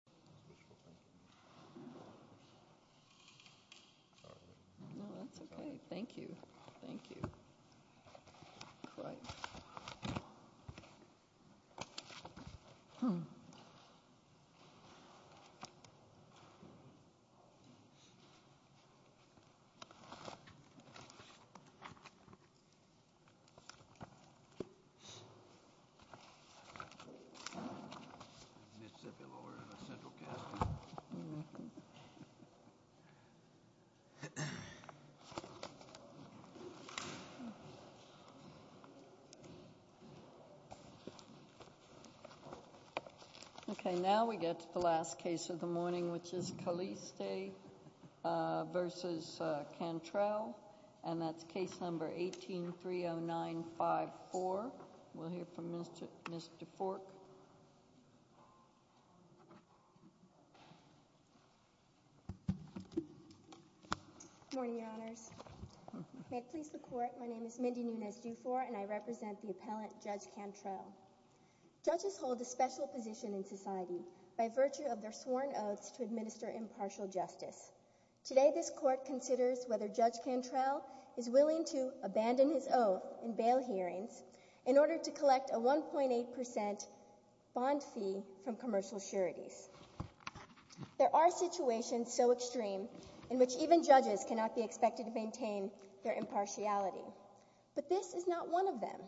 Case No. 18-30954 Now we get to the last case of the morning which is Caliste v. Cantrell and that's case No. 18-30954. We'll hear from Ms. DeFork. Good morning, Your Honors. May it please the Court, my name is Mindy Nunes-Dufour and I represent the appellant, Judge Cantrell. Judges hold a special position in society by virtue of their sworn oaths to administer impartial justice. Today this Court considers whether Judge Cantrell is willing to abandon his oath in bail hearings in order to collect a 1.8% bond fee from commercial sureties. There are situations so extreme in which even judges cannot be expected to maintain their impartiality, but this is not one of them.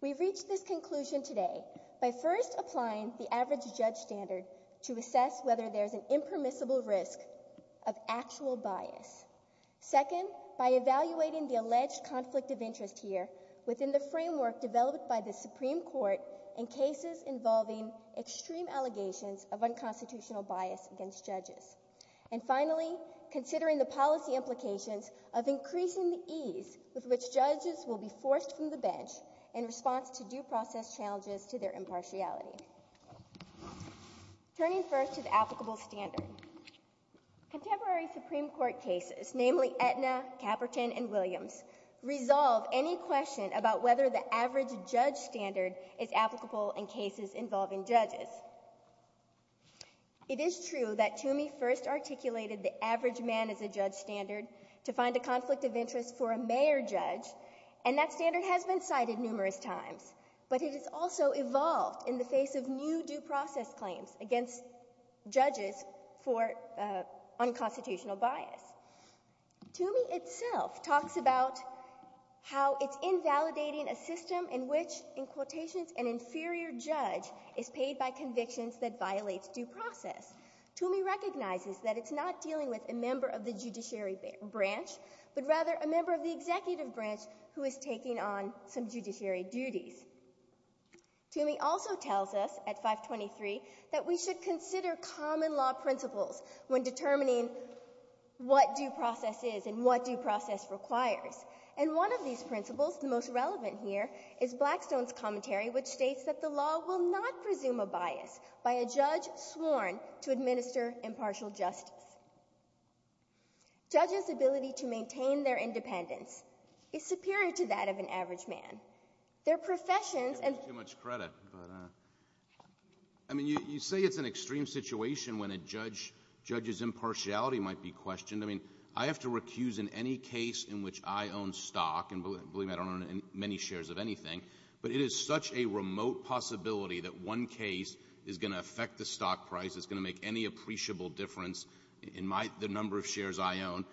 We've reached this conclusion today by first applying the average judge standard to assess whether there's an impermissible risk of actual bias. Second, by evaluating the alleged conflict of interest here within the framework developed by the Supreme Court in cases involving extreme allegations of unconstitutional bias against judges. And finally, considering the policy implications of increasing the ease with which judges will be forced from the bench in response to due process challenges to their impartiality. Turning first to the applicable standard. Contemporary Supreme Court cases, namely Aetna, Caperton, and Williams, resolve any question about whether the average judge standard is applicable in cases involving judges. It is true that Toomey first articulated the average man as a judge standard to find a conflict of interest for a mayor judge, and that standard has been cited numerous times. But it has also evolved in the face of new due process claims against judges for unconstitutional bias. Toomey itself talks about how it's invalidating a system in which, in quotations, an inferior judge is paid by convictions that violate due process. Toomey recognizes that it's not dealing with a member of the judiciary branch, but rather a member of the executive branch who is taking on some judiciary duties. Toomey also tells us, at 523, that we should consider common law principles when determining what due process is and what due process requires. And one of these principles, the most relevant here, is Blackstone's commentary, which states that the law will not presume a bias by a judge sworn to administer impartial justice. Judges' ability to maintain their independence is superior to that of an average man. Their professions and... I don't have too much credit, but, I mean, you say it's an extreme situation when a judge's impartiality might be questioned. I mean, I have to recuse in any case in which I own stock, and believe me, I don't own many shares of anything, but it is such a remote possibility that one case is going to affect the stock price, it's going to make any appreciable difference in the number of shares I own,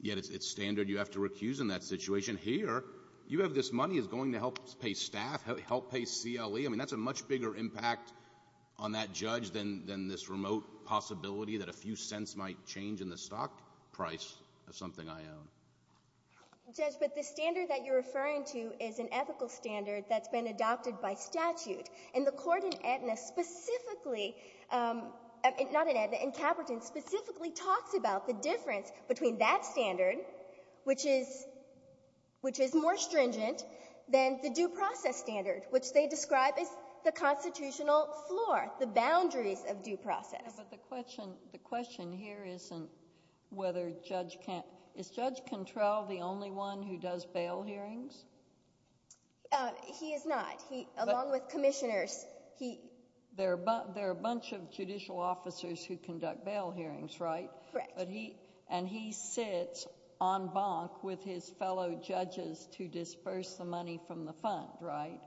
yet it's standard you have to recuse in that situation. Here, you have this money, it's going to help pay staff, help pay CLE. I mean, that's a much bigger impact on that judge than this remote possibility that a few cents might change in the stock price of something I own. Judge, but the standard that you're referring to is an ethical standard that's been adopted by statute, and the court in Edna specifically, not in Edna, in Caperton, specifically talks about the difference between that standard, which is more stringent, than the due process standard, which they describe as the constitutional floor, the boundaries of due process. But the question here isn't whether judge can't – is Judge Cantrell the only one who does bail hearings? He is not. Along with commissioners, he – There are a bunch of judicial officers who conduct bail hearings, right? Correct. And he sits en banc with his fellow judges to disperse the money from the fund, right?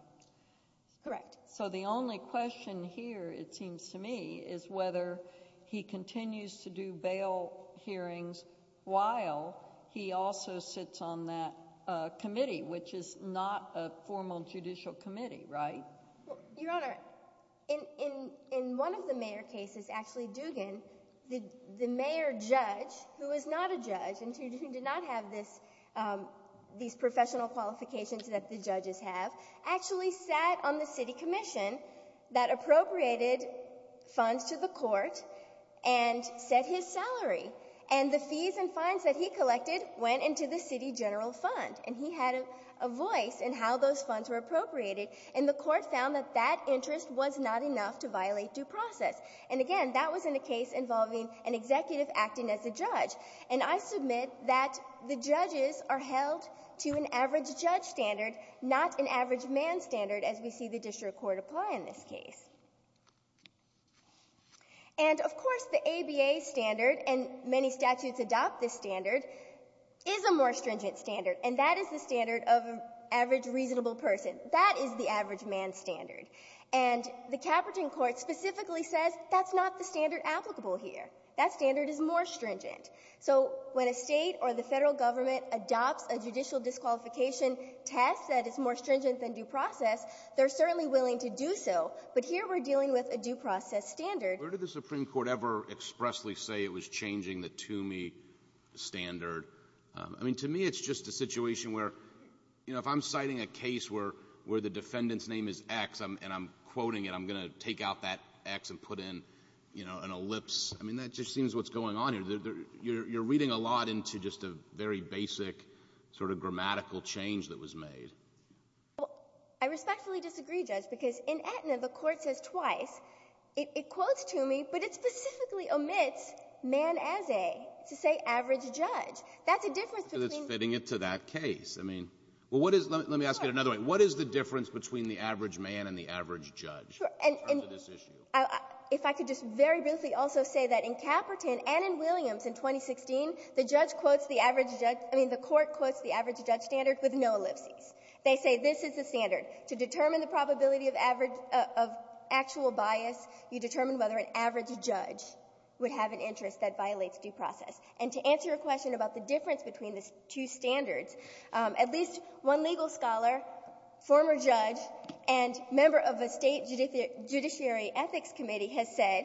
Correct. So the only question here, it seems to me, is whether he continues to do bail hearings while he also sits on that committee, which is not a formal judicial committee, right? Your Honor, in one of the mayor cases, actually, Dugan, the mayor judge, who is not a judge, and who did not have these professional qualifications that the judges have, actually sat on the city commission that appropriated funds to the court and set his salary. And the fees and fines that he collected went into the city general fund, and he had a voice in how those funds were appropriated. And the court found that that interest was not enough to violate due process. And, again, that was in a case involving an executive acting as a judge. And I submit that the judges are held to an average judge standard, not an average man standard as we see the district court apply in this case. And, of course, the ABA standard, and many statutes adopt this standard, is a more stringent standard, and that is the standard of an average reasonable person. That is the average man standard. And the Caperton court specifically says that's not the standard applicable here. That standard is more stringent. So when a state or the federal government adopts a judicial disqualification test that is more stringent than due process, they're certainly willing to do so. But here we're dealing with a due process standard. Where did the Supreme Court ever expressly say it was changing the Toomey standard? I mean, to me it's just a situation where, you know, if I'm citing a case where the defendant's name is X and I'm quoting it, I'm going to take out that X and put in, you know, an ellipse. I mean, that just seems what's going on here. You're reading a lot into just a very basic sort of grammatical change that was made. Well, I respectfully disagree, Judge, because in Aetna the court says twice. It quotes Toomey, but it specifically omits man as a to say average judge. That's a difference between the two. So it's fitting it to that case. I mean, well, let me ask it another way. What is the difference between the average man and the average judge in terms of this issue? If I could just very briefly also say that in Caperton and in Williams in 2016, the judge quotes the average judge — I mean, the court quotes the average judge standard with no ellipses. They say this is the standard. To determine the probability of average — of actual bias, you determine whether an average judge would have an interest that violates due process. And to answer your question about the difference between the two standards, at least one legal scholar, former judge, and member of a State Judiciary Ethics Committee has said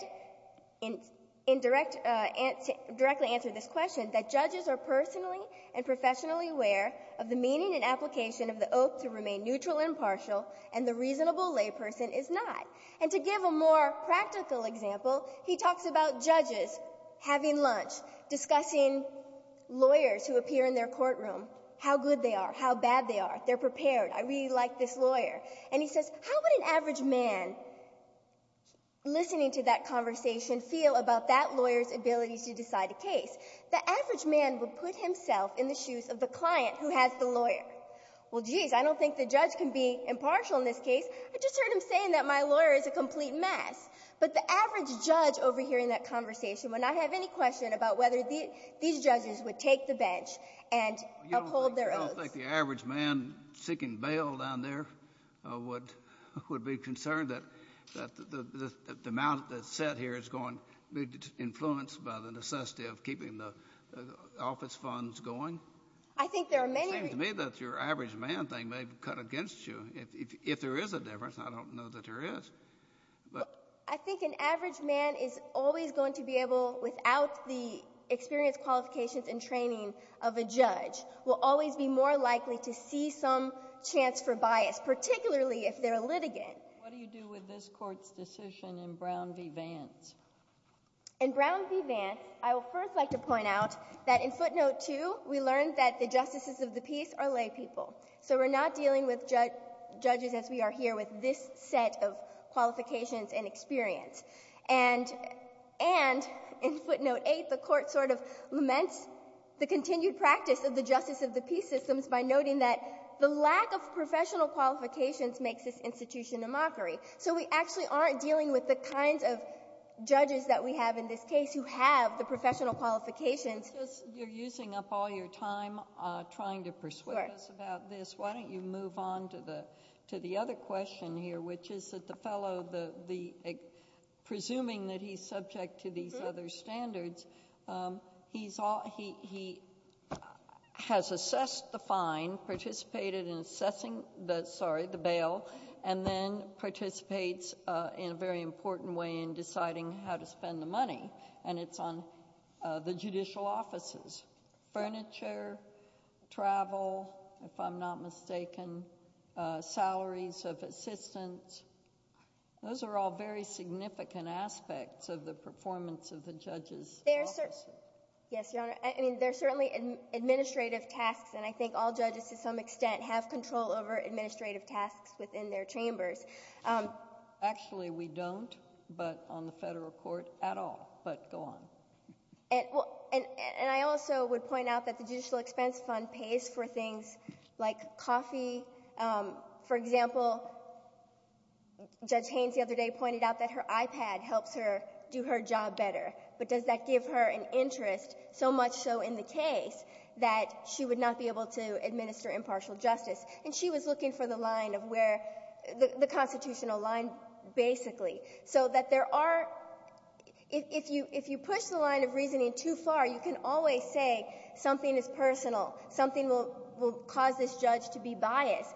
in direct — directly answered this question, that judges are personally and professionally aware of the meaning and application of the oath to remain neutral and partial, and the reasonable layperson is not. And to give a more practical example, he talks about judges having lunch, discussing lawyers who appear in their courtroom, how good they are, how bad they are. They're prepared. I really like this lawyer. And he says, how would an average man listening to that conversation feel about that lawyer's ability to decide a case? The average man would put himself in the shoes of the client who has the lawyer. Well, geez, I don't think the judge can be impartial in this case. I just heard him saying that my lawyer is a complete mess. But the average judge overhearing that conversation would not have any question about whether these judges would take the bench and uphold their oaths. I don't think the average man seeking bail down there would be concerned that the amount that's set here is going to be influenced by the necessity of keeping the office funds going. It seems to me that your average man thing may have cut against you. If there is a difference, I don't know that there is. I think an average man is always going to be able, without the experience, qualifications, and training of a judge, will always be more likely to see some chance for bias, particularly if they're a litigant. What do you do with this court's decision in Brown v. Vance? In Brown v. Vance, I would first like to point out that in footnote 2, we learned that the justices of the peace are lay people. So we're not dealing with judges as we are here with this set of qualifications and experience. And in footnote 8, the court sort of laments the continued practice of the justice of the peace systems by noting that the lack of professional qualifications makes this institution a mockery. So we actually aren't dealing with the kinds of judges that we have in this case who have the professional qualifications. You're using up all your time trying to persuade us about this. Why don't you move on to the other question here, which is that the fellow, presuming that he's subject to these other standards, he has assessed the fine, participated in assessing the bail, and then participates in a very important way in deciding how to spend the money, and it's on the judicial offices, furniture, travel, if I'm not mistaken, salaries of assistants. Those are all very significant aspects of the performance of the judge's office. Yes, Your Honor. I mean, there are certainly administrative tasks, and I think all judges to some extent have control over administrative tasks within their chambers. Actually, we don't, but on the federal court, at all. But go on. And I also would point out that the Judicial Expense Fund pays for things like coffee. For example, Judge Haynes the other day pointed out that her iPad helps her do her job better, but does that give her an interest, so much so in the case, that she would not be able to administer impartial justice. And she was looking for the line of where the constitutional line basically, so that there are – if you push the line of reasoning too far, you can always say something is personal, something will cause this judge to be biased.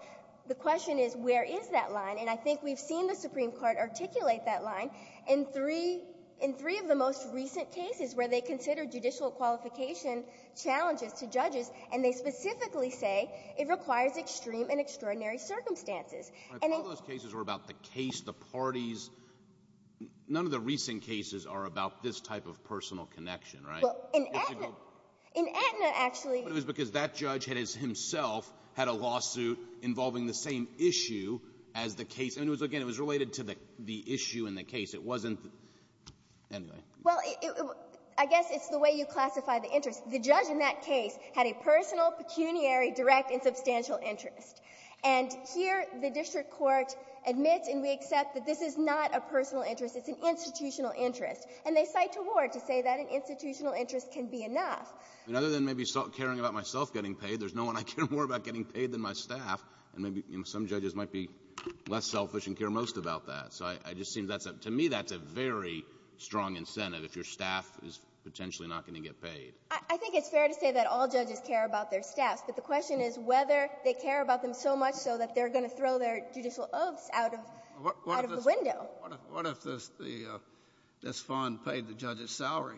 The question is, where is that line? And I think we've seen the Supreme Court articulate that line in three of the most recent cases where they consider judicial qualification challenges to judges, and they specifically say it requires extreme and extraordinary circumstances. I thought those cases were about the case, the parties. None of the recent cases are about this type of personal connection, right? Well, in Aetna, in Aetna, actually — But it was because that judge had himself had a lawsuit involving the same issue as the case. And it was, again, it was related to the issue in the case. It wasn't — anyway. Well, I guess it's the way you classify the interest. The judge in that case had a personal, pecuniary, direct, and substantial interest. And here the district court admits and we accept that this is not a personal interest. It's an institutional interest. And they cite Tawad to say that an institutional interest can be enough. I mean, other than maybe caring about myself getting paid, there's no one I care more about getting paid than my staff. And maybe some judges might be less selfish and care most about that. So I just think that's a — to me, that's a very strong incentive if your staff is potentially not going to get paid. I think it's fair to say that all judges care about their staffs. But the question is whether they care about them so much so that they're going to throw their judicial oaths out of the window. What if this — what if this fund paid the judge's salary?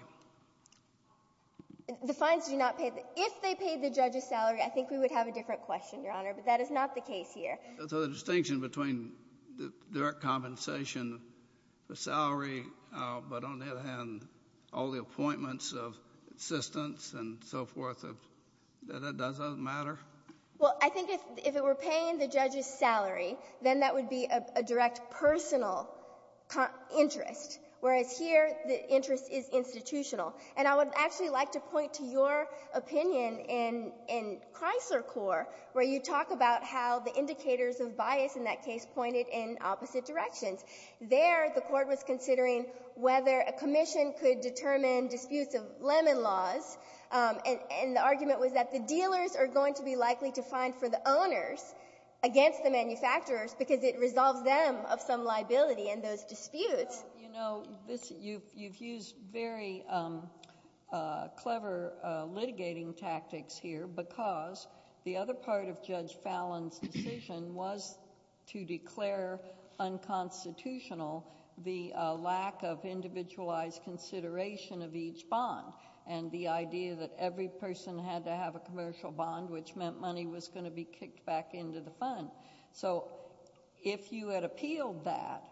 The fines do not pay the — if they paid the judge's salary, I think we would have a different question, Your Honor. But that is not the case here. So the distinction between the direct compensation for salary, but on the other hand, all the appointments of assistants and so forth, that it doesn't matter? Well, I think if it were paying the judge's salary, then that would be a direct personal interest, whereas here the interest is institutional. And I would actually like to point to your opinion in Chrysler Court, where you talk about how the indicators of bias in that case pointed in opposite directions. There, the Court was considering whether a commission could determine disputes of lemon laws, and the argument was that the dealers are going to be likely to find for the owners against the manufacturers because it resolves them of some liability in those disputes. You know, you've used very clever litigating tactics here because the other part of Judge Fallon's decision was to declare unconstitutional the lack of individualized consideration of each bond and the idea that every person had to have a commercial bond, which meant money was going to be kicked back into the fund. So if you had appealed that,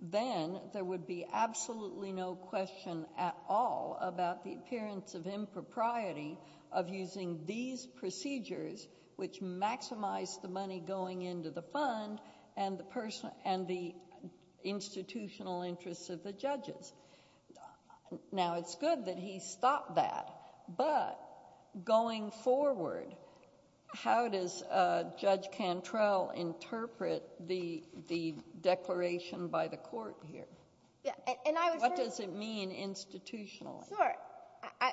then there would be absolutely no question at all about the appearance of impropriety of using these procedures, which maximized the money going into the fund and the institutional interests of the judges. Now, it's good that he stopped that, but going forward, how does Judge Cantrell interpret the declaration by the Court here? What does it mean institutionally? Sure.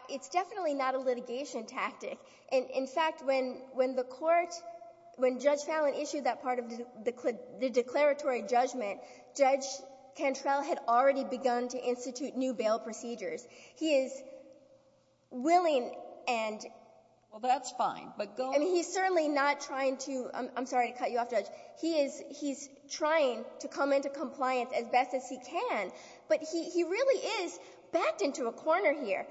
It's definitely not a litigation tactic. In fact, when the Court — when Judge Fallon issued that part of the declaratory judgment, Judge Cantrell had already begun to institute new bail procedures. He is willing and — Well, that's fine, but going — I mean, he's certainly not trying to — I'm sorry to cut you off, Judge. He is — he's trying to come into compliance as best as he can, but he really is backed into a corner here.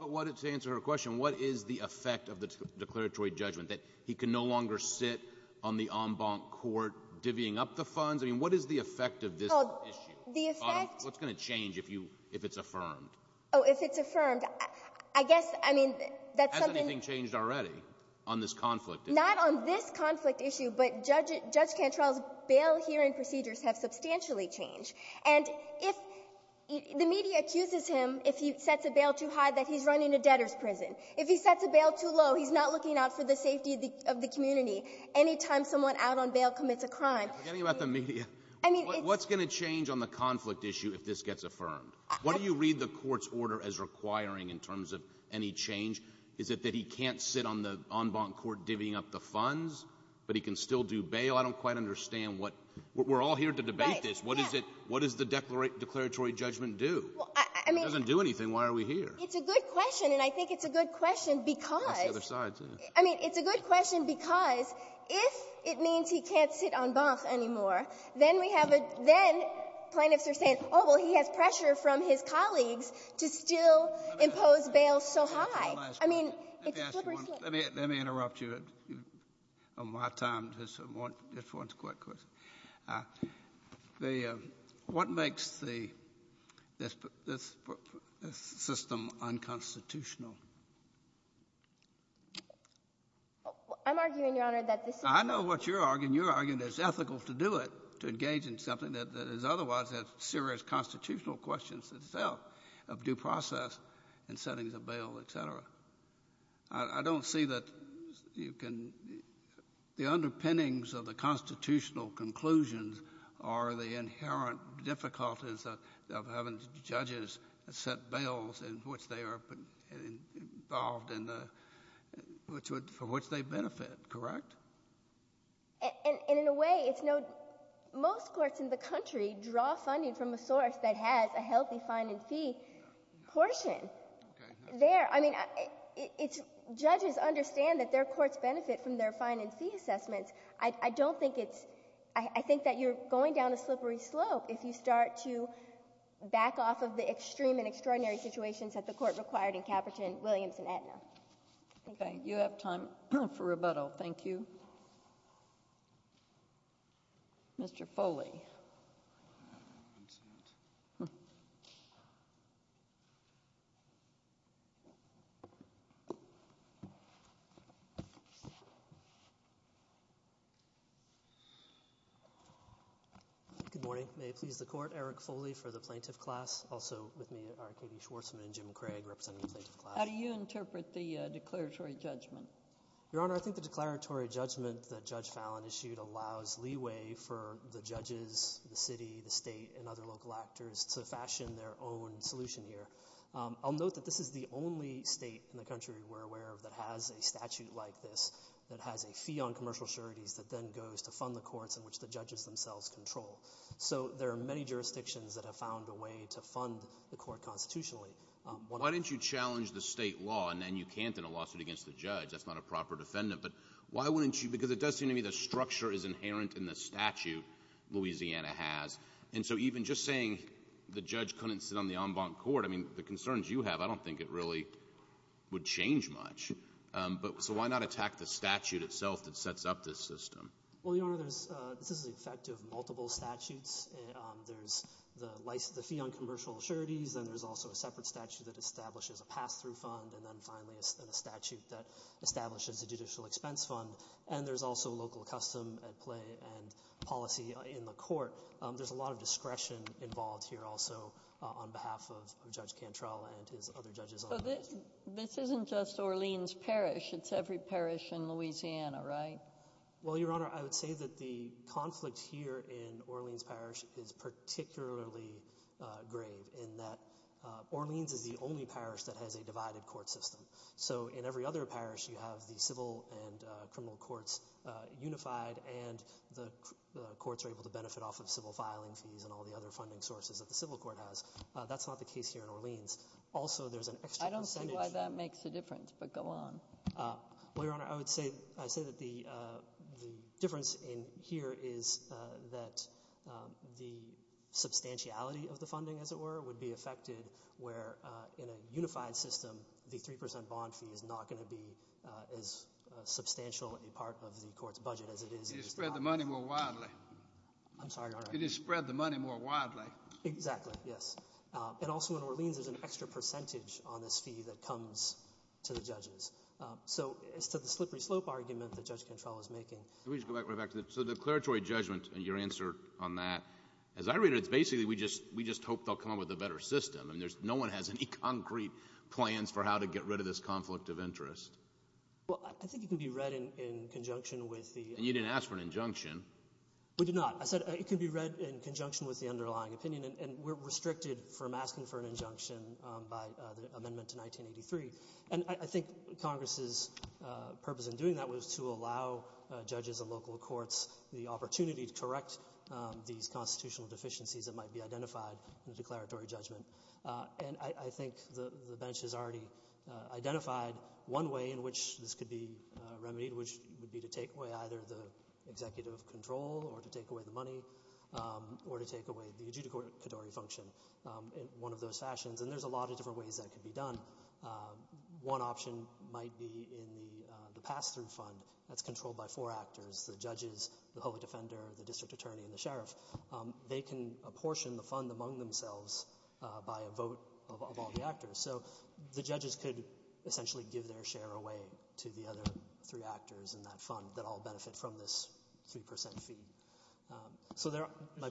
But to answer her question, what is the effect of the declaratory judgment, that he can no longer sit on the en banc court divvying up the funds? I mean, what is the effect of this issue? The effect — What's going to change if you — if it's affirmed? Oh, if it's affirmed, I guess — I mean, that's something — Has anything changed already on this conflict issue? Not on this conflict issue, but Judge Cantrell's bail hearing procedures have substantially changed. And if — the media accuses him, if he sets a bail too high, that he's running a debtor's prison. If he sets a bail too low, he's not looking out for the safety of the community. Any time someone out on bail commits a crime — Forgetting about the media. I mean, it's — What's going to change on the conflict issue if this gets affirmed? What do you read the Court's order as requiring in terms of any change? Is it that he can't sit on the en banc court divvying up the funds, but he can still do bail? I don't quite understand what — we're all here to debate this. What is it — what does the declaratory judgment do? Well, I mean — It doesn't do anything. Why are we here? It's a good question, and I think it's a good question because — Ask the other side, too. I mean, it's a good question because if it means he can't sit en banc anymore, then we have a — then plaintiffs are saying, oh, well, he has pressure from his colleagues to still impose bail so high. I mean, it's a slippery slope. Let me ask you one. Let me interrupt you. On my time, just one quick question. What makes the — this system unconstitutional? I'm arguing, Your Honor, that this is — I know what you're arguing. You're arguing that it's ethical to do it, to engage in something that is otherwise a serious constitutional question itself of due process and settings of bail, et cetera. I don't see that you can — the underpinnings of the constitutional conclusions are the inherent difficulties of having judges set bails in which they are involved in the — for which they benefit, correct? And in a way, it's no — most courts in the country draw funding from a source that has a healthy fine and fee portion. There — I mean, it's — judges understand that their courts benefit from their fine and fee assessments. I don't think it's — I think that you're going down a slippery slope if you start to back off of the extreme and extraordinary situations that the court required in Caperton, Williams, and Aetna. Thank you. Okay. You have time for rebuttal. Thank you. Mr. Foley. Good morning. May it please the Court. Eric Foley for the plaintiff class. Also with me are Katie Schwarzman and Jim Craig representing the plaintiff class. How do you interpret the declaratory judgment? Your Honor, I think the declaratory judgment that Judge Fallon issued allows leeway for the judges, the city, the state, and other local actors to fashion their own solution here. I'll note that this is the only state in the country we're aware of that has a statute like this, that has a fee on commercial sureties that then goes to fund the courts in which the judges themselves control. So there are many jurisdictions that have found a way to fund the court constitutionally. Why didn't you challenge the state law and then you can't in a lawsuit against the judge? That's not a proper defendant. But why wouldn't you — because it does seem to me the structure is inherent in the statute Louisiana has. And so even just saying the judge couldn't sit on the en banc court, I mean, the concerns you have, I don't think it really would change much. So why not attack the statute itself that sets up this system? Well, Your Honor, this is the effect of multiple statutes. There's the fee on commercial sureties, then there's also a separate statute that establishes a pass-through fund, and then finally a statute that establishes a judicial expense fund. So there's a lot of discretion involved here also on behalf of Judge Cantrell and his other judges. So this isn't just Orleans Parish. It's every parish in Louisiana, right? Well, Your Honor, I would say that the conflict here in Orleans Parish is particularly grave in that Orleans is the only parish that has a divided court system. So in every other parish, you have the civil and criminal courts unified, and the courts are able to benefit off of civil filing fees and all the other funding sources that the civil court has. That's not the case here in Orleans. Also, there's an extra percentage— I don't see why that makes a difference, but go on. Well, Your Honor, I would say that the difference in here is that the substantiality of the funding, as it were, would be affected where, in a unified system, the 3 percent bond fee is not going to be as substantial a part of the court's budget as it is— Could you spread the money more widely? I'm sorry, Your Honor. Could you spread the money more widely? Exactly, yes. And also, in Orleans, there's an extra percentage on this fee that comes to the judges. So, as to the slippery slope argument that Judge Cantrell is making— Let me just go back to the declaratory judgment and your answer on that. As I read it, it's basically we just hope they'll come up with a better system. I mean, no one has any concrete plans for how to get rid of this conflict of interest. Well, I think it can be read in conjunction with the— And you didn't ask for an injunction. We did not. I said it could be read in conjunction with the underlying opinion, and we're restricted from asking for an injunction by the amendment to 1983. And I think Congress's purpose in doing that was to allow judges and local courts the opportunity to correct these constitutional deficiencies that might be identified in the declaratory judgment. And I think the bench has already identified one way in which this could be remedied, which would be to take away either the executive control or to take away the money or to take away the adjudicatory function in one of those fashions. And there's a lot of different ways that could be done. One option might be in the pass-through fund that's controlled by four actors— the judges, the public defender, the district attorney, and the sheriff. They can apportion the fund among themselves by a vote of all the actors. So the judges could essentially give their share away to the other three actors in that fund that all benefit from this 3% fee. It seems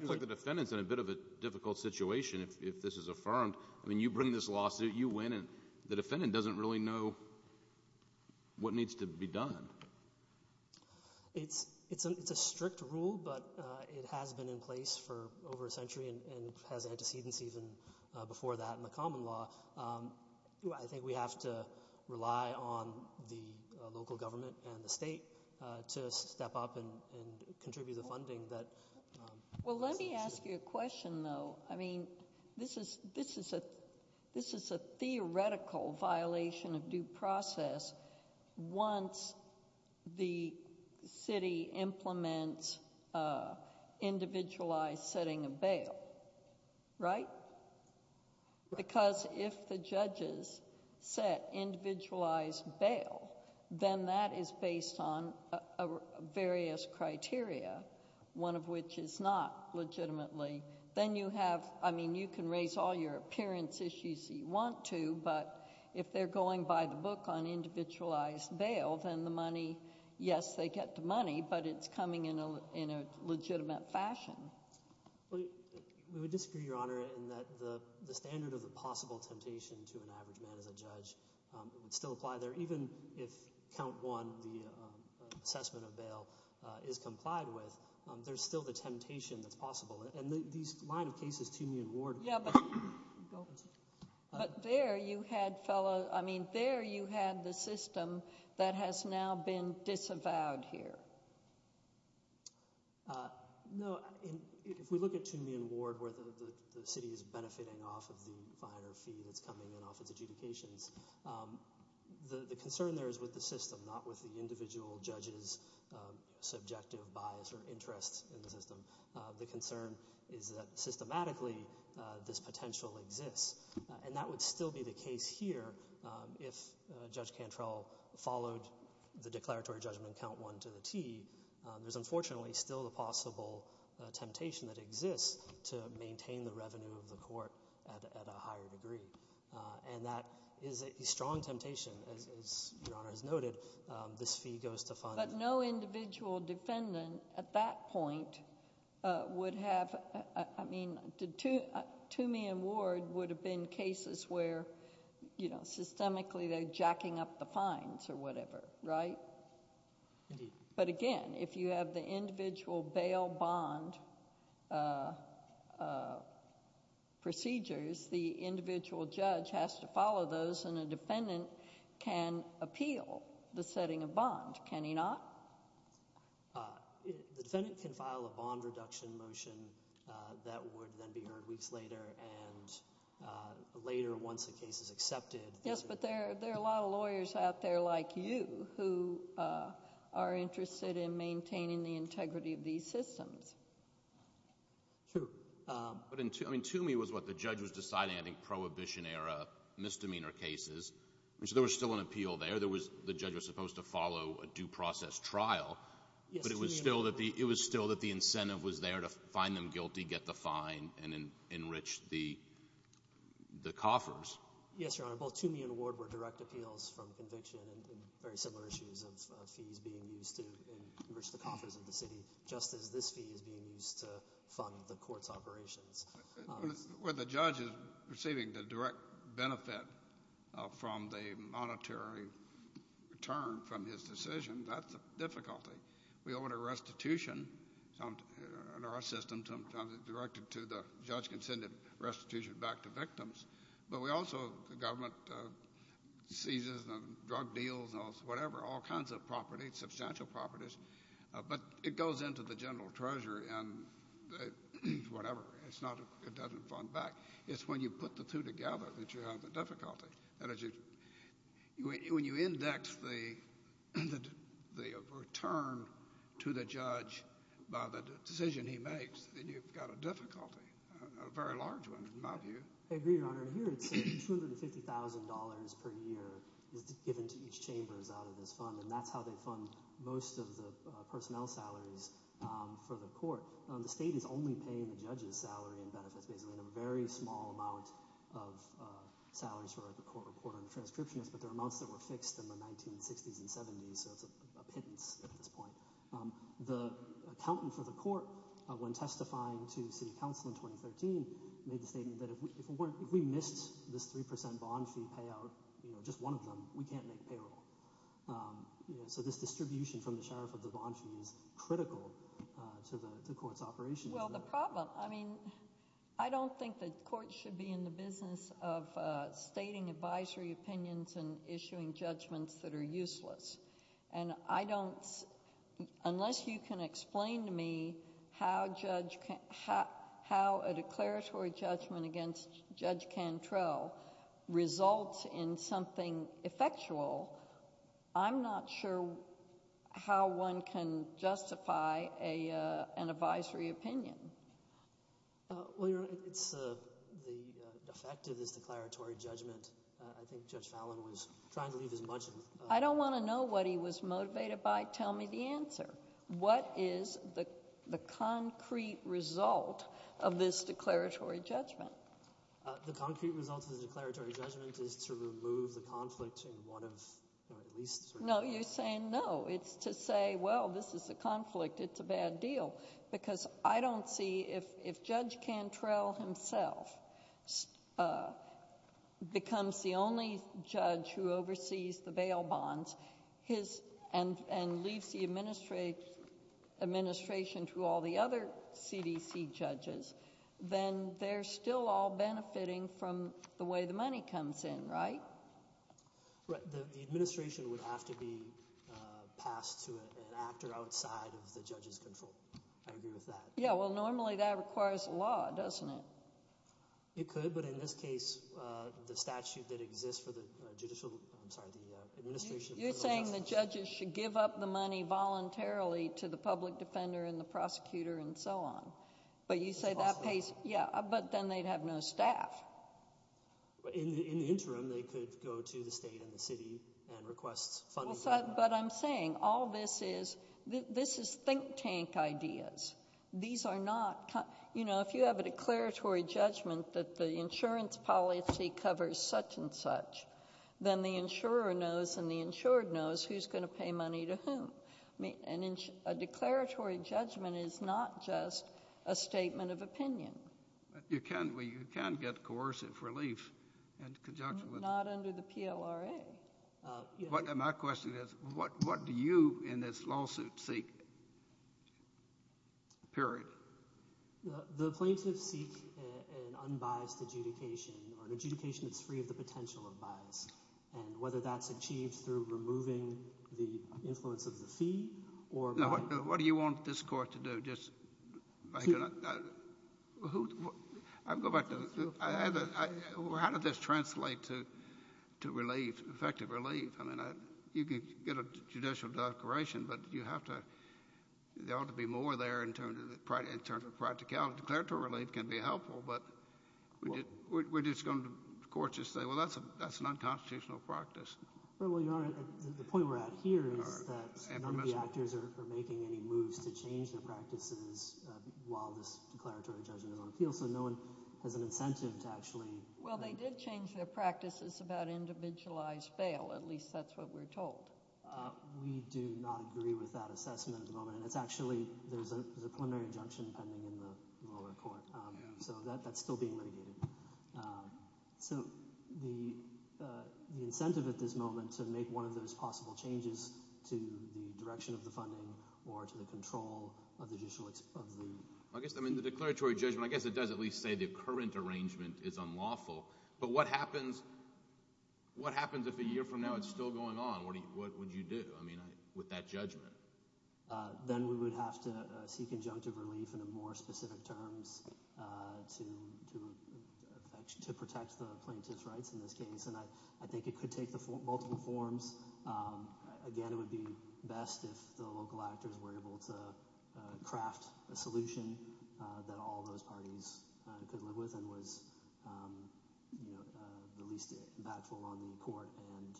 like the defendant's in a bit of a difficult situation if this is affirmed. I mean, you bring this lawsuit. You win. And the defendant doesn't really know what needs to be done. It's a strict rule, but it has been in place for over a century and has antecedents even before that in the common law. I think we have to rely on the local government and the state to step up and contribute the funding. Well, let me ask you a question, though. I mean, this is a theoretical violation of due process once the city implements individualized setting of bail, right? Because if the judges set individualized bail, then that is based on various criteria, one of which is not legitimately— I mean, you can raise all your appearance issues if you want to, but if they're going by the book on individualized bail, then the money— yes, they get the money, but it's coming in a legitimate fashion. We would disagree, Your Honor, in that the standard of the possible temptation to an average man as a judge would still apply there even if count one, the assessment of bail, is complied with. There's still the temptation that's possible. And these line of cases, Toomey and Ward— But there you had the system that has now been disavowed here. No, if we look at Toomey and Ward where the city is benefiting off of the finer fee that's coming in off its adjudications, the concern there is with the system, not with the individual judge's subjective bias or interest in the system. The concern is that systematically this potential exists, and that would still be the case here if Judge Cantrell followed the declaratory judgment in count one to the T. There's unfortunately still the possible temptation that exists to maintain the revenue of the court at a higher degree, and that is a strong temptation. As Your Honor has noted, this fee goes to fund— But no individual defendant at that point would have— I mean, Toomey and Ward would have been cases where, you know, systemically they're jacking up the fines or whatever, right? Indeed. But again, if you have the individual bail bond procedures, the individual judge has to follow those, and a defendant can appeal the setting of bond. Can he not? The defendant can file a bond reduction motion that would then be heard weeks later, and later once the case is accepted— Yes, but there are a lot of lawyers out there like you who are interested in maintaining the integrity of these systems. True. But Toomey was what the judge was deciding, I think, prohibition-era misdemeanor cases. So there was still an appeal there. The judge was supposed to follow a due process trial. Yes, Toomey and Ward. But it was still that the incentive was there to find them guilty, get the fine, and enrich the coffers. Yes, Your Honor. Both Toomey and Ward were direct appeals from conviction and very similar issues of fees being used to enrich the coffers of the city, just as this fee is being used to fund the court's operations. Well, the judge is receiving the direct benefit from the monetary return from his decision. That's a difficulty. We order restitution in our system, sometimes it's directed to the judge can send the restitution back to victims. But we also—the government seizes drug deals and whatever, all kinds of property, substantial properties. But it goes into the general treasurer and whatever. It doesn't fund back. It's when you put the two together that you have the difficulty. When you index the return to the judge by the decision he makes, then you've got a difficulty, a very large one in my view. I agree, Your Honor. Here it's $250,000 per year is given to each chamber as out of this fund, and that's how they fund most of the personnel salaries for the court. The state is only paying the judge's salary and benefits, basically in a very small amount of salaries for the court reporter and transcriptionist, but there are amounts that were fixed in the 1960s and 70s, so it's a pittance at this point. The accountant for the court, when testifying to city council in 2013, made the statement that if we missed this 3% bond fee payout, just one of them, we can't make payroll. So this distribution from the sheriff of the bond fee is critical to the court's operation. Well, the problem—I mean I don't think the court should be in the business of stating advisory opinions and issuing judgments that are useless. And I don't—unless you can explain to me how a declaratory judgment against Judge Cantrell results in something effectual, I'm not sure how one can justify an advisory opinion. Well, Your Honor, it's the effect of this declaratory judgment. I think Judge Fallon was trying to leave as much— I don't want to know what he was motivated by. Tell me the answer. What is the concrete result of this declaratory judgment? The concrete result of the declaratory judgment is to remove the conflict in one of at least— No, you're saying no. It's to say, well, this is a conflict. It's a bad deal. Because I don't see—if Judge Cantrell himself becomes the only judge who oversees the bail bonds and leaves the administration to all the other CDC judges, then they're still all benefiting from the way the money comes in, right? The administration would have to be passed to an actor outside of the judge's control. I agree with that. Yeah, well, normally that requires a law, doesn't it? It could, but in this case, the statute that exists for the judicial—I'm sorry, the administration— You're saying the judges should give up the money voluntarily to the public defender and the prosecutor and so on. But you say that pays— Yeah, but then they'd have no staff. In the interim, they could go to the state and the city and request funding. But I'm saying all this is—this is think tank ideas. These are not—you know, if you have a declaratory judgment that the insurance policy covers such and such, then the insurer knows and the insured knows who's going to pay money to whom. A declaratory judgment is not just a statement of opinion. You can get coercive relief in conjunction with— Not under the PLRA. My question is what do you in this lawsuit seek, period? The plaintiffs seek an unbiased adjudication or an adjudication that's free of the potential of bias, and whether that's achieved through removing the influence of the fee or— What do you want this Court to do, just— I'll go back to—how does this translate to relief, effective relief? I mean, you could get a judicial declaration, but you have to— there ought to be more there in terms of practicality. Declaratory relief can be helpful, but we're just going to, of course, just say, well, that's an unconstitutional practice. Well, Your Honor, the point we're at here is that none of the actors are making any moves to change their practices while this declaratory judgment is on appeal, so no one has an incentive to actually— Well, they did change their practices about individualized bail. At least that's what we're told. We do not agree with that assessment at the moment, and it's actually— there's a preliminary injunction pending in the lower court, so that's still being litigated. So the incentive at this moment to make one of those possible changes to the direction of the funding or to the control of the judicial— I guess the declaratory judgment, I guess it does at least say the current arrangement is unlawful, but what happens if a year from now it's still going on? What would you do, I mean, with that judgment? Then we would have to seek injunctive relief in more specific terms to protect the plaintiff's rights in this case, and I think it could take multiple forms. Again, it would be best if the local actors were able to craft a solution that all those parties could live with and was the least impactful on the court and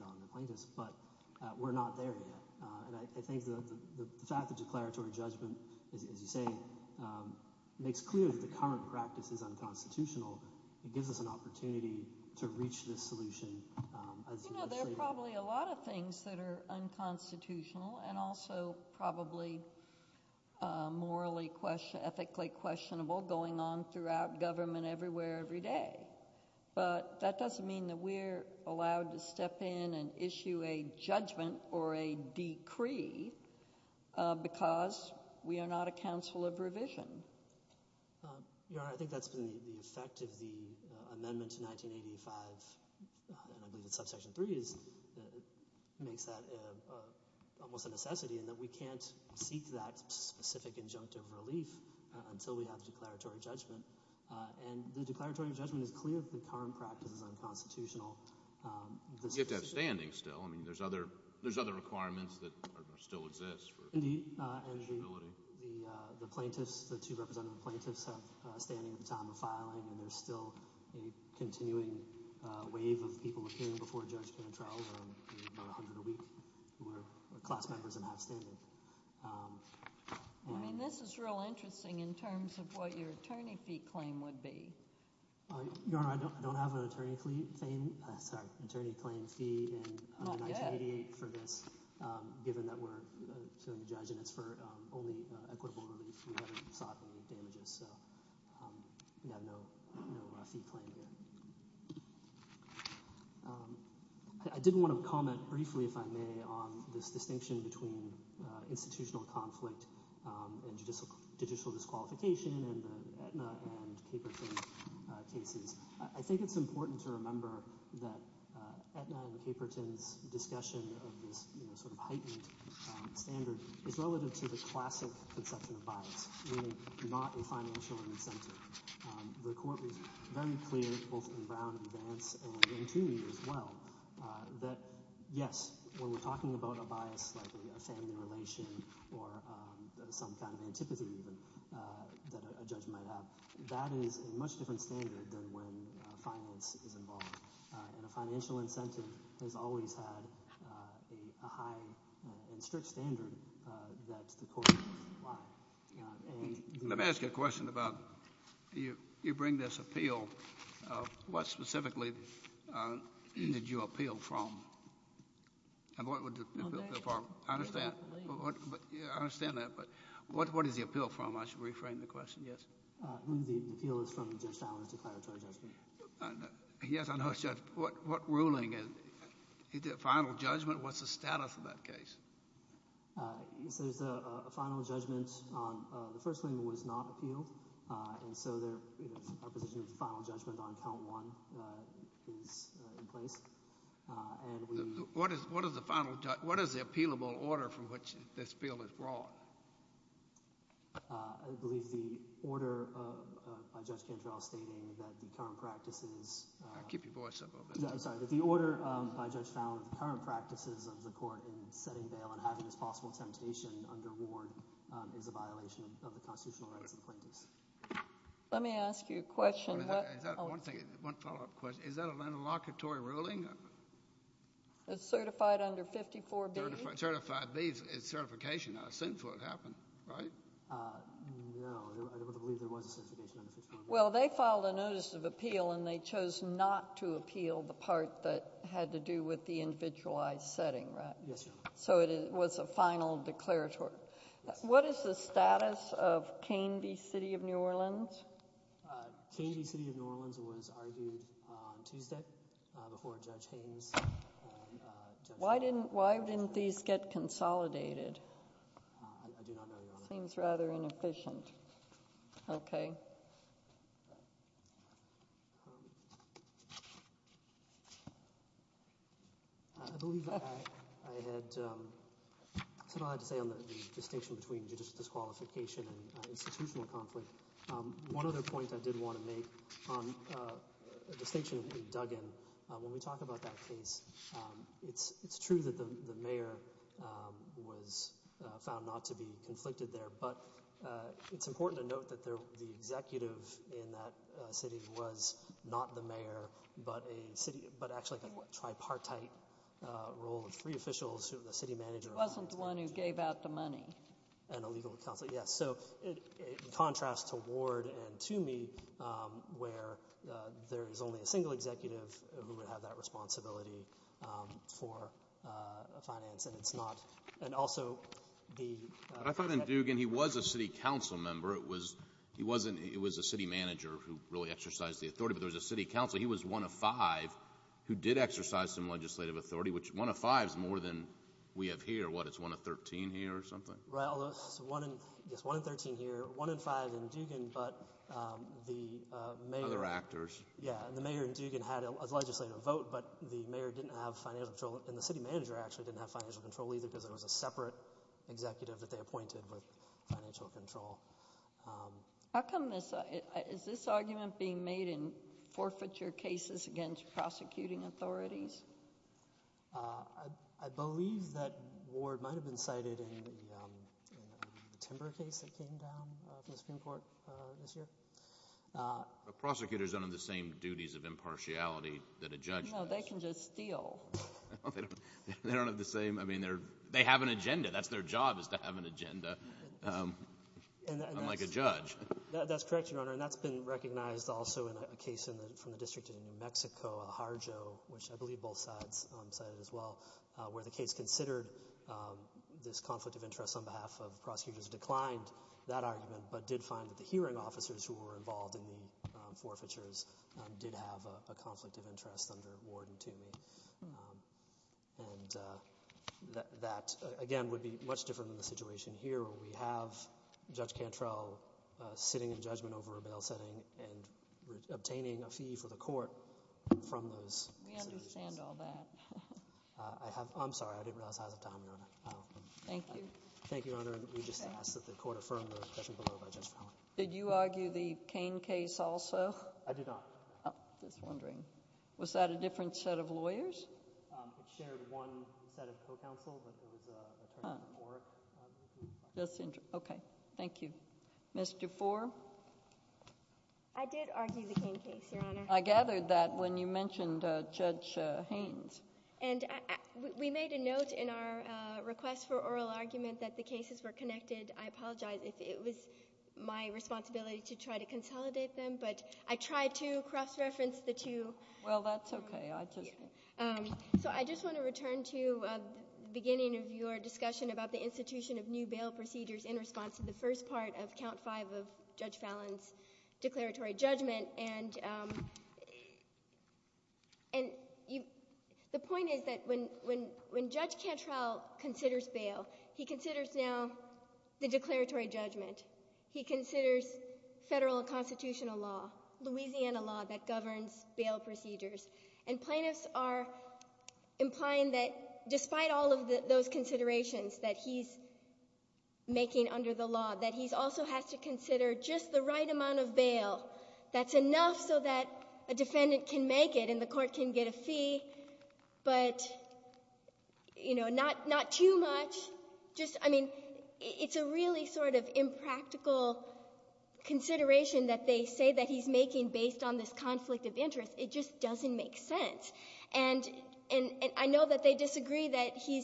on the plaintiffs. But we're not there yet, and I think the fact that declaratory judgment, as you say, makes clear that the current practice is unconstitutional. It gives us an opportunity to reach this solution as— You know, there are probably a lot of things that are unconstitutional and also probably morally—ethically questionable going on throughout government everywhere every day, but that doesn't mean that we're allowed to step in and issue a judgment or a decree because we are not a council of revision. Your Honor, I think that's been the effect of the amendment to 1985, and I believe it's subsection 3, makes that almost a necessity in that we can't seek that specific injunctive relief until we have declaratory judgment. And the declaratory judgment is clear that the current practice is unconstitutional. You have to have standing still. I mean, there's other requirements that still exist for— Indeed, and the plaintiffs, the two representative plaintiffs, have standing at the time of filing, and there's still a continuing wave of people appearing before a judge in a trial where there are about 100 a week who are class members and have standing. I mean, this is real interesting in terms of what your attorney fee claim would be. Your Honor, I don't have an attorney claim fee in 1988 for this, given that we're serving a judge and it's for only equitable relief. We haven't sought any damages, so we have no fee claim here. I did want to comment briefly, if I may, on this distinction between institutional conflict and judicial disqualification in the Aetna and Caperton cases. I think it's important to remember that Aetna and Caperton's discussion of this heightened standard is relative to the classic conception of bias, meaning not a financial incentive. The court was very clear, both in Brown and Vance and in Toomey as well, that yes, when we're talking about a bias like a family relation or some kind of antipathy even that a judge might have, that is a much different standard than when finance is involved. And a financial incentive has always had a high and strict standard that the court would apply. Let me ask you a question about you bring this appeal. What specifically did you appeal from? I understand that, but what is the appeal from? I should reframe the question, yes? The appeal is from Judge Fowler's declaratory judgment. Yes, I know. What ruling? Is it a final judgment? What's the status of that case? There's a final judgment. The first claimant was not appealed, and so our position of final judgment on count one is in place. What is the appealable order from which this bill is brought? I believe the order by Judge Cantrell stating that the current practices— Keep your voice up a little bit. I'm sorry, that the order by Judge Fowler, the current practices of the court in setting bail and having this possible temptation under ward is a violation of the constitutional rights of the plaintiffs. Let me ask you a question. One follow-up question. Is that an interlocutory ruling? It's certified under 54B. Certified B is certification. A sinful would happen, right? No, I believe there was a certification under 54B. Well, they filed a notice of appeal, and they chose not to appeal the part that had to do with the individualized setting, right? Yes, Your Honor. So it was a final declaratory. Yes. What is the status of Canby City of New Orleans? Canby City of New Orleans was argued on Tuesday before Judge Haynes. Why didn't these get consolidated? I do not know, Your Honor. It seems rather inefficient. Okay. I believe I had said all I had to say on the distinction between judicial disqualification and institutional conflict. One other point I did want to make on a distinction that we dug in, when we talk about that case, it's true that the mayor was found not to be conflicted there, but it's important to note that the executive in that city was not the mayor, but actually a tripartite role of three officials, the city manager. He wasn't the one who gave out the money. And a legal counsel, yes. So in contrast to Ward and to me, where there is only a single executive who would have that responsibility for finance, and it's not – and also the – I thought in Dugan he was a city council member. It was a city manager who really exercised the authority, but there was a city council. He was one of five who did exercise some legislative authority, which one of five is more than we have here. What, it's one of 13 here or something? Well, it's one in 13 here, one in five in Dugan, but the mayor – Other actors. Yeah, and the mayor in Dugan had a legislative vote, but the mayor didn't have financial control, and the city manager actually didn't have financial control either because there was a separate executive that they appointed with financial control. How come this – is this argument being made in forfeiture cases against prosecuting authorities? I believe that Ward might have been cited in the Timber case that came down from the Supreme Court this year. Prosecutors don't have the same duties of impartiality that a judge does. No, they can just steal. They don't have the same – I mean, they have an agenda. That's their job is to have an agenda, unlike a judge. That's correct, Your Honor, and that's been recognized also in a case from the District of New Mexico, a Harjo, which I believe both sides cited as well, where the case considered this conflict of interest on behalf of prosecutors declined that argument but did find that the hearing officers who were involved in the forfeitures did have a conflict of interest under Ward and Toomey. And that, again, would be much different than the situation here where we have Judge Cantrell sitting in judgment over a bail setting and obtaining a fee for the court from those situations. We understand all that. I'm sorry. I didn't realize I was out of time, Your Honor. Thank you. Thank you, Your Honor, and we just ask that the court affirm the objection below by Judge Fowler. Did you argue the Cain case also? I did not. I was wondering. Was that a different set of lawyers? It shared one set of co-counsel, but there was a term for more. Okay. Thank you. Ms. DeFore? I did argue the Cain case, Your Honor. I gathered that when you mentioned Judge Haynes. And we made a note in our request for oral argument that the cases were connected. I apologize if it was my responsibility to try to consolidate them, but I tried to cross-reference the two. Well, that's okay. So I just want to return to the beginning of your discussion about the institution of new bail procedures in response to the first part of Count 5 of Judge Fallon's declaratory judgment. And the point is that when Judge Cantrell considers bail, he considers now the declaratory judgment. He considers federal constitutional law, Louisiana law that governs bail procedures. And plaintiffs are implying that despite all of those considerations that he's making under the law, that he also has to consider just the right amount of bail that's enough so that a defendant can make it and the court can get a fee, but, you know, not too much. I mean, it's a really sort of impractical consideration that they say that he's making based on this conflict of interest. It just doesn't make sense. And I know that they disagree that he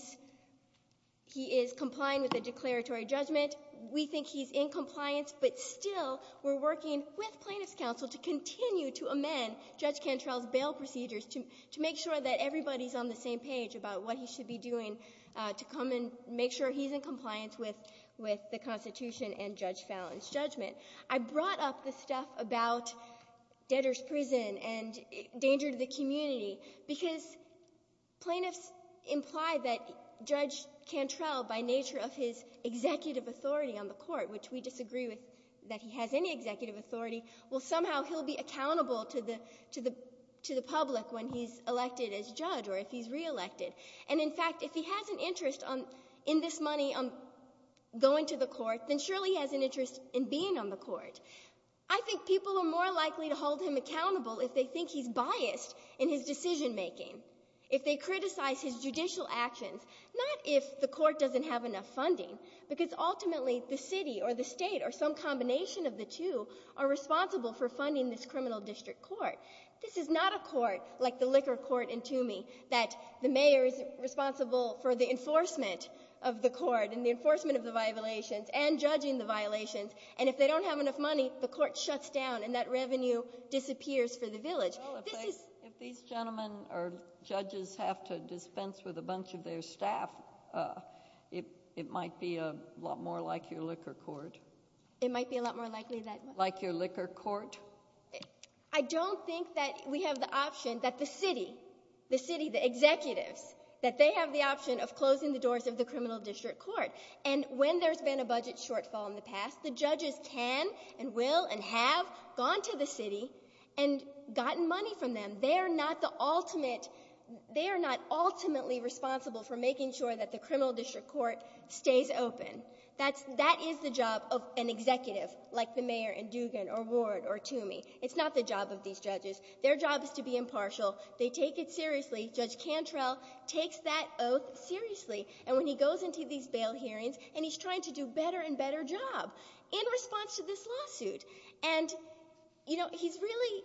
is complying with the declaratory judgment. We think he's in compliance, but still we're working with plaintiffs' counsel to continue to amend Judge Cantrell's bail procedures to make sure that everybody is on the same page about what he should be doing to come and make sure he's in compliance with the Constitution and Judge Fallon's judgment. I brought up the stuff about debtors' prison and danger to the community because plaintiffs imply that Judge Cantrell, by nature of his executive authority on the court, which we disagree with that he has any executive authority, will somehow be accountable to the public when he's elected as judge or if he's reelected. And, in fact, if he has an interest in this money going to the court, then surely he has an interest in being on the court. I think people are more likely to hold him accountable if they think he's biased in his decision-making, if they criticize his judicial actions, not if the court doesn't have enough funding, because ultimately the city or the state or some combination of the two are responsible for funding this criminal district court. This is not a court like the liquor court in Toomey that the mayor is responsible for the enforcement of the court and the enforcement of the violations and judging the violations. And if they don't have enough money, the court shuts down and that revenue disappears for the village. Well, if these gentlemen or judges have to dispense with a bunch of their staff, it might be a lot more like your liquor court. It might be a lot more likely that what? Like your liquor court. I don't think that we have the option that the city, the city, the executives, that they have the option of closing the doors of the criminal district court. And when there's been a budget shortfall in the past, the judges can and will and have gone to the city and gotten money from them. They are not the ultimate. They are not ultimately responsible for making sure that the criminal district court stays open. That is the job of an executive like the mayor in Dugan or Ward or Toomey. It's not the job of these judges. Their job is to be impartial. They take it seriously. Judge Cantrell takes that oath seriously. And when he goes into these bail hearings and he's trying to do a better and better job in response to this lawsuit. And, you know, he's really,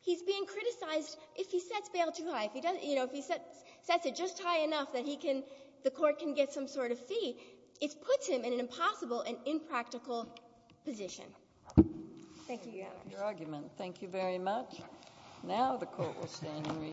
he's being criticized if he sets bail too high. You know, if he sets it just high enough that he can, the court can get some sort of fee. It puts him in an impossible and impractical position. Thank you, Your Honor. Your argument. Thank you very much. Now the court will stand in recess.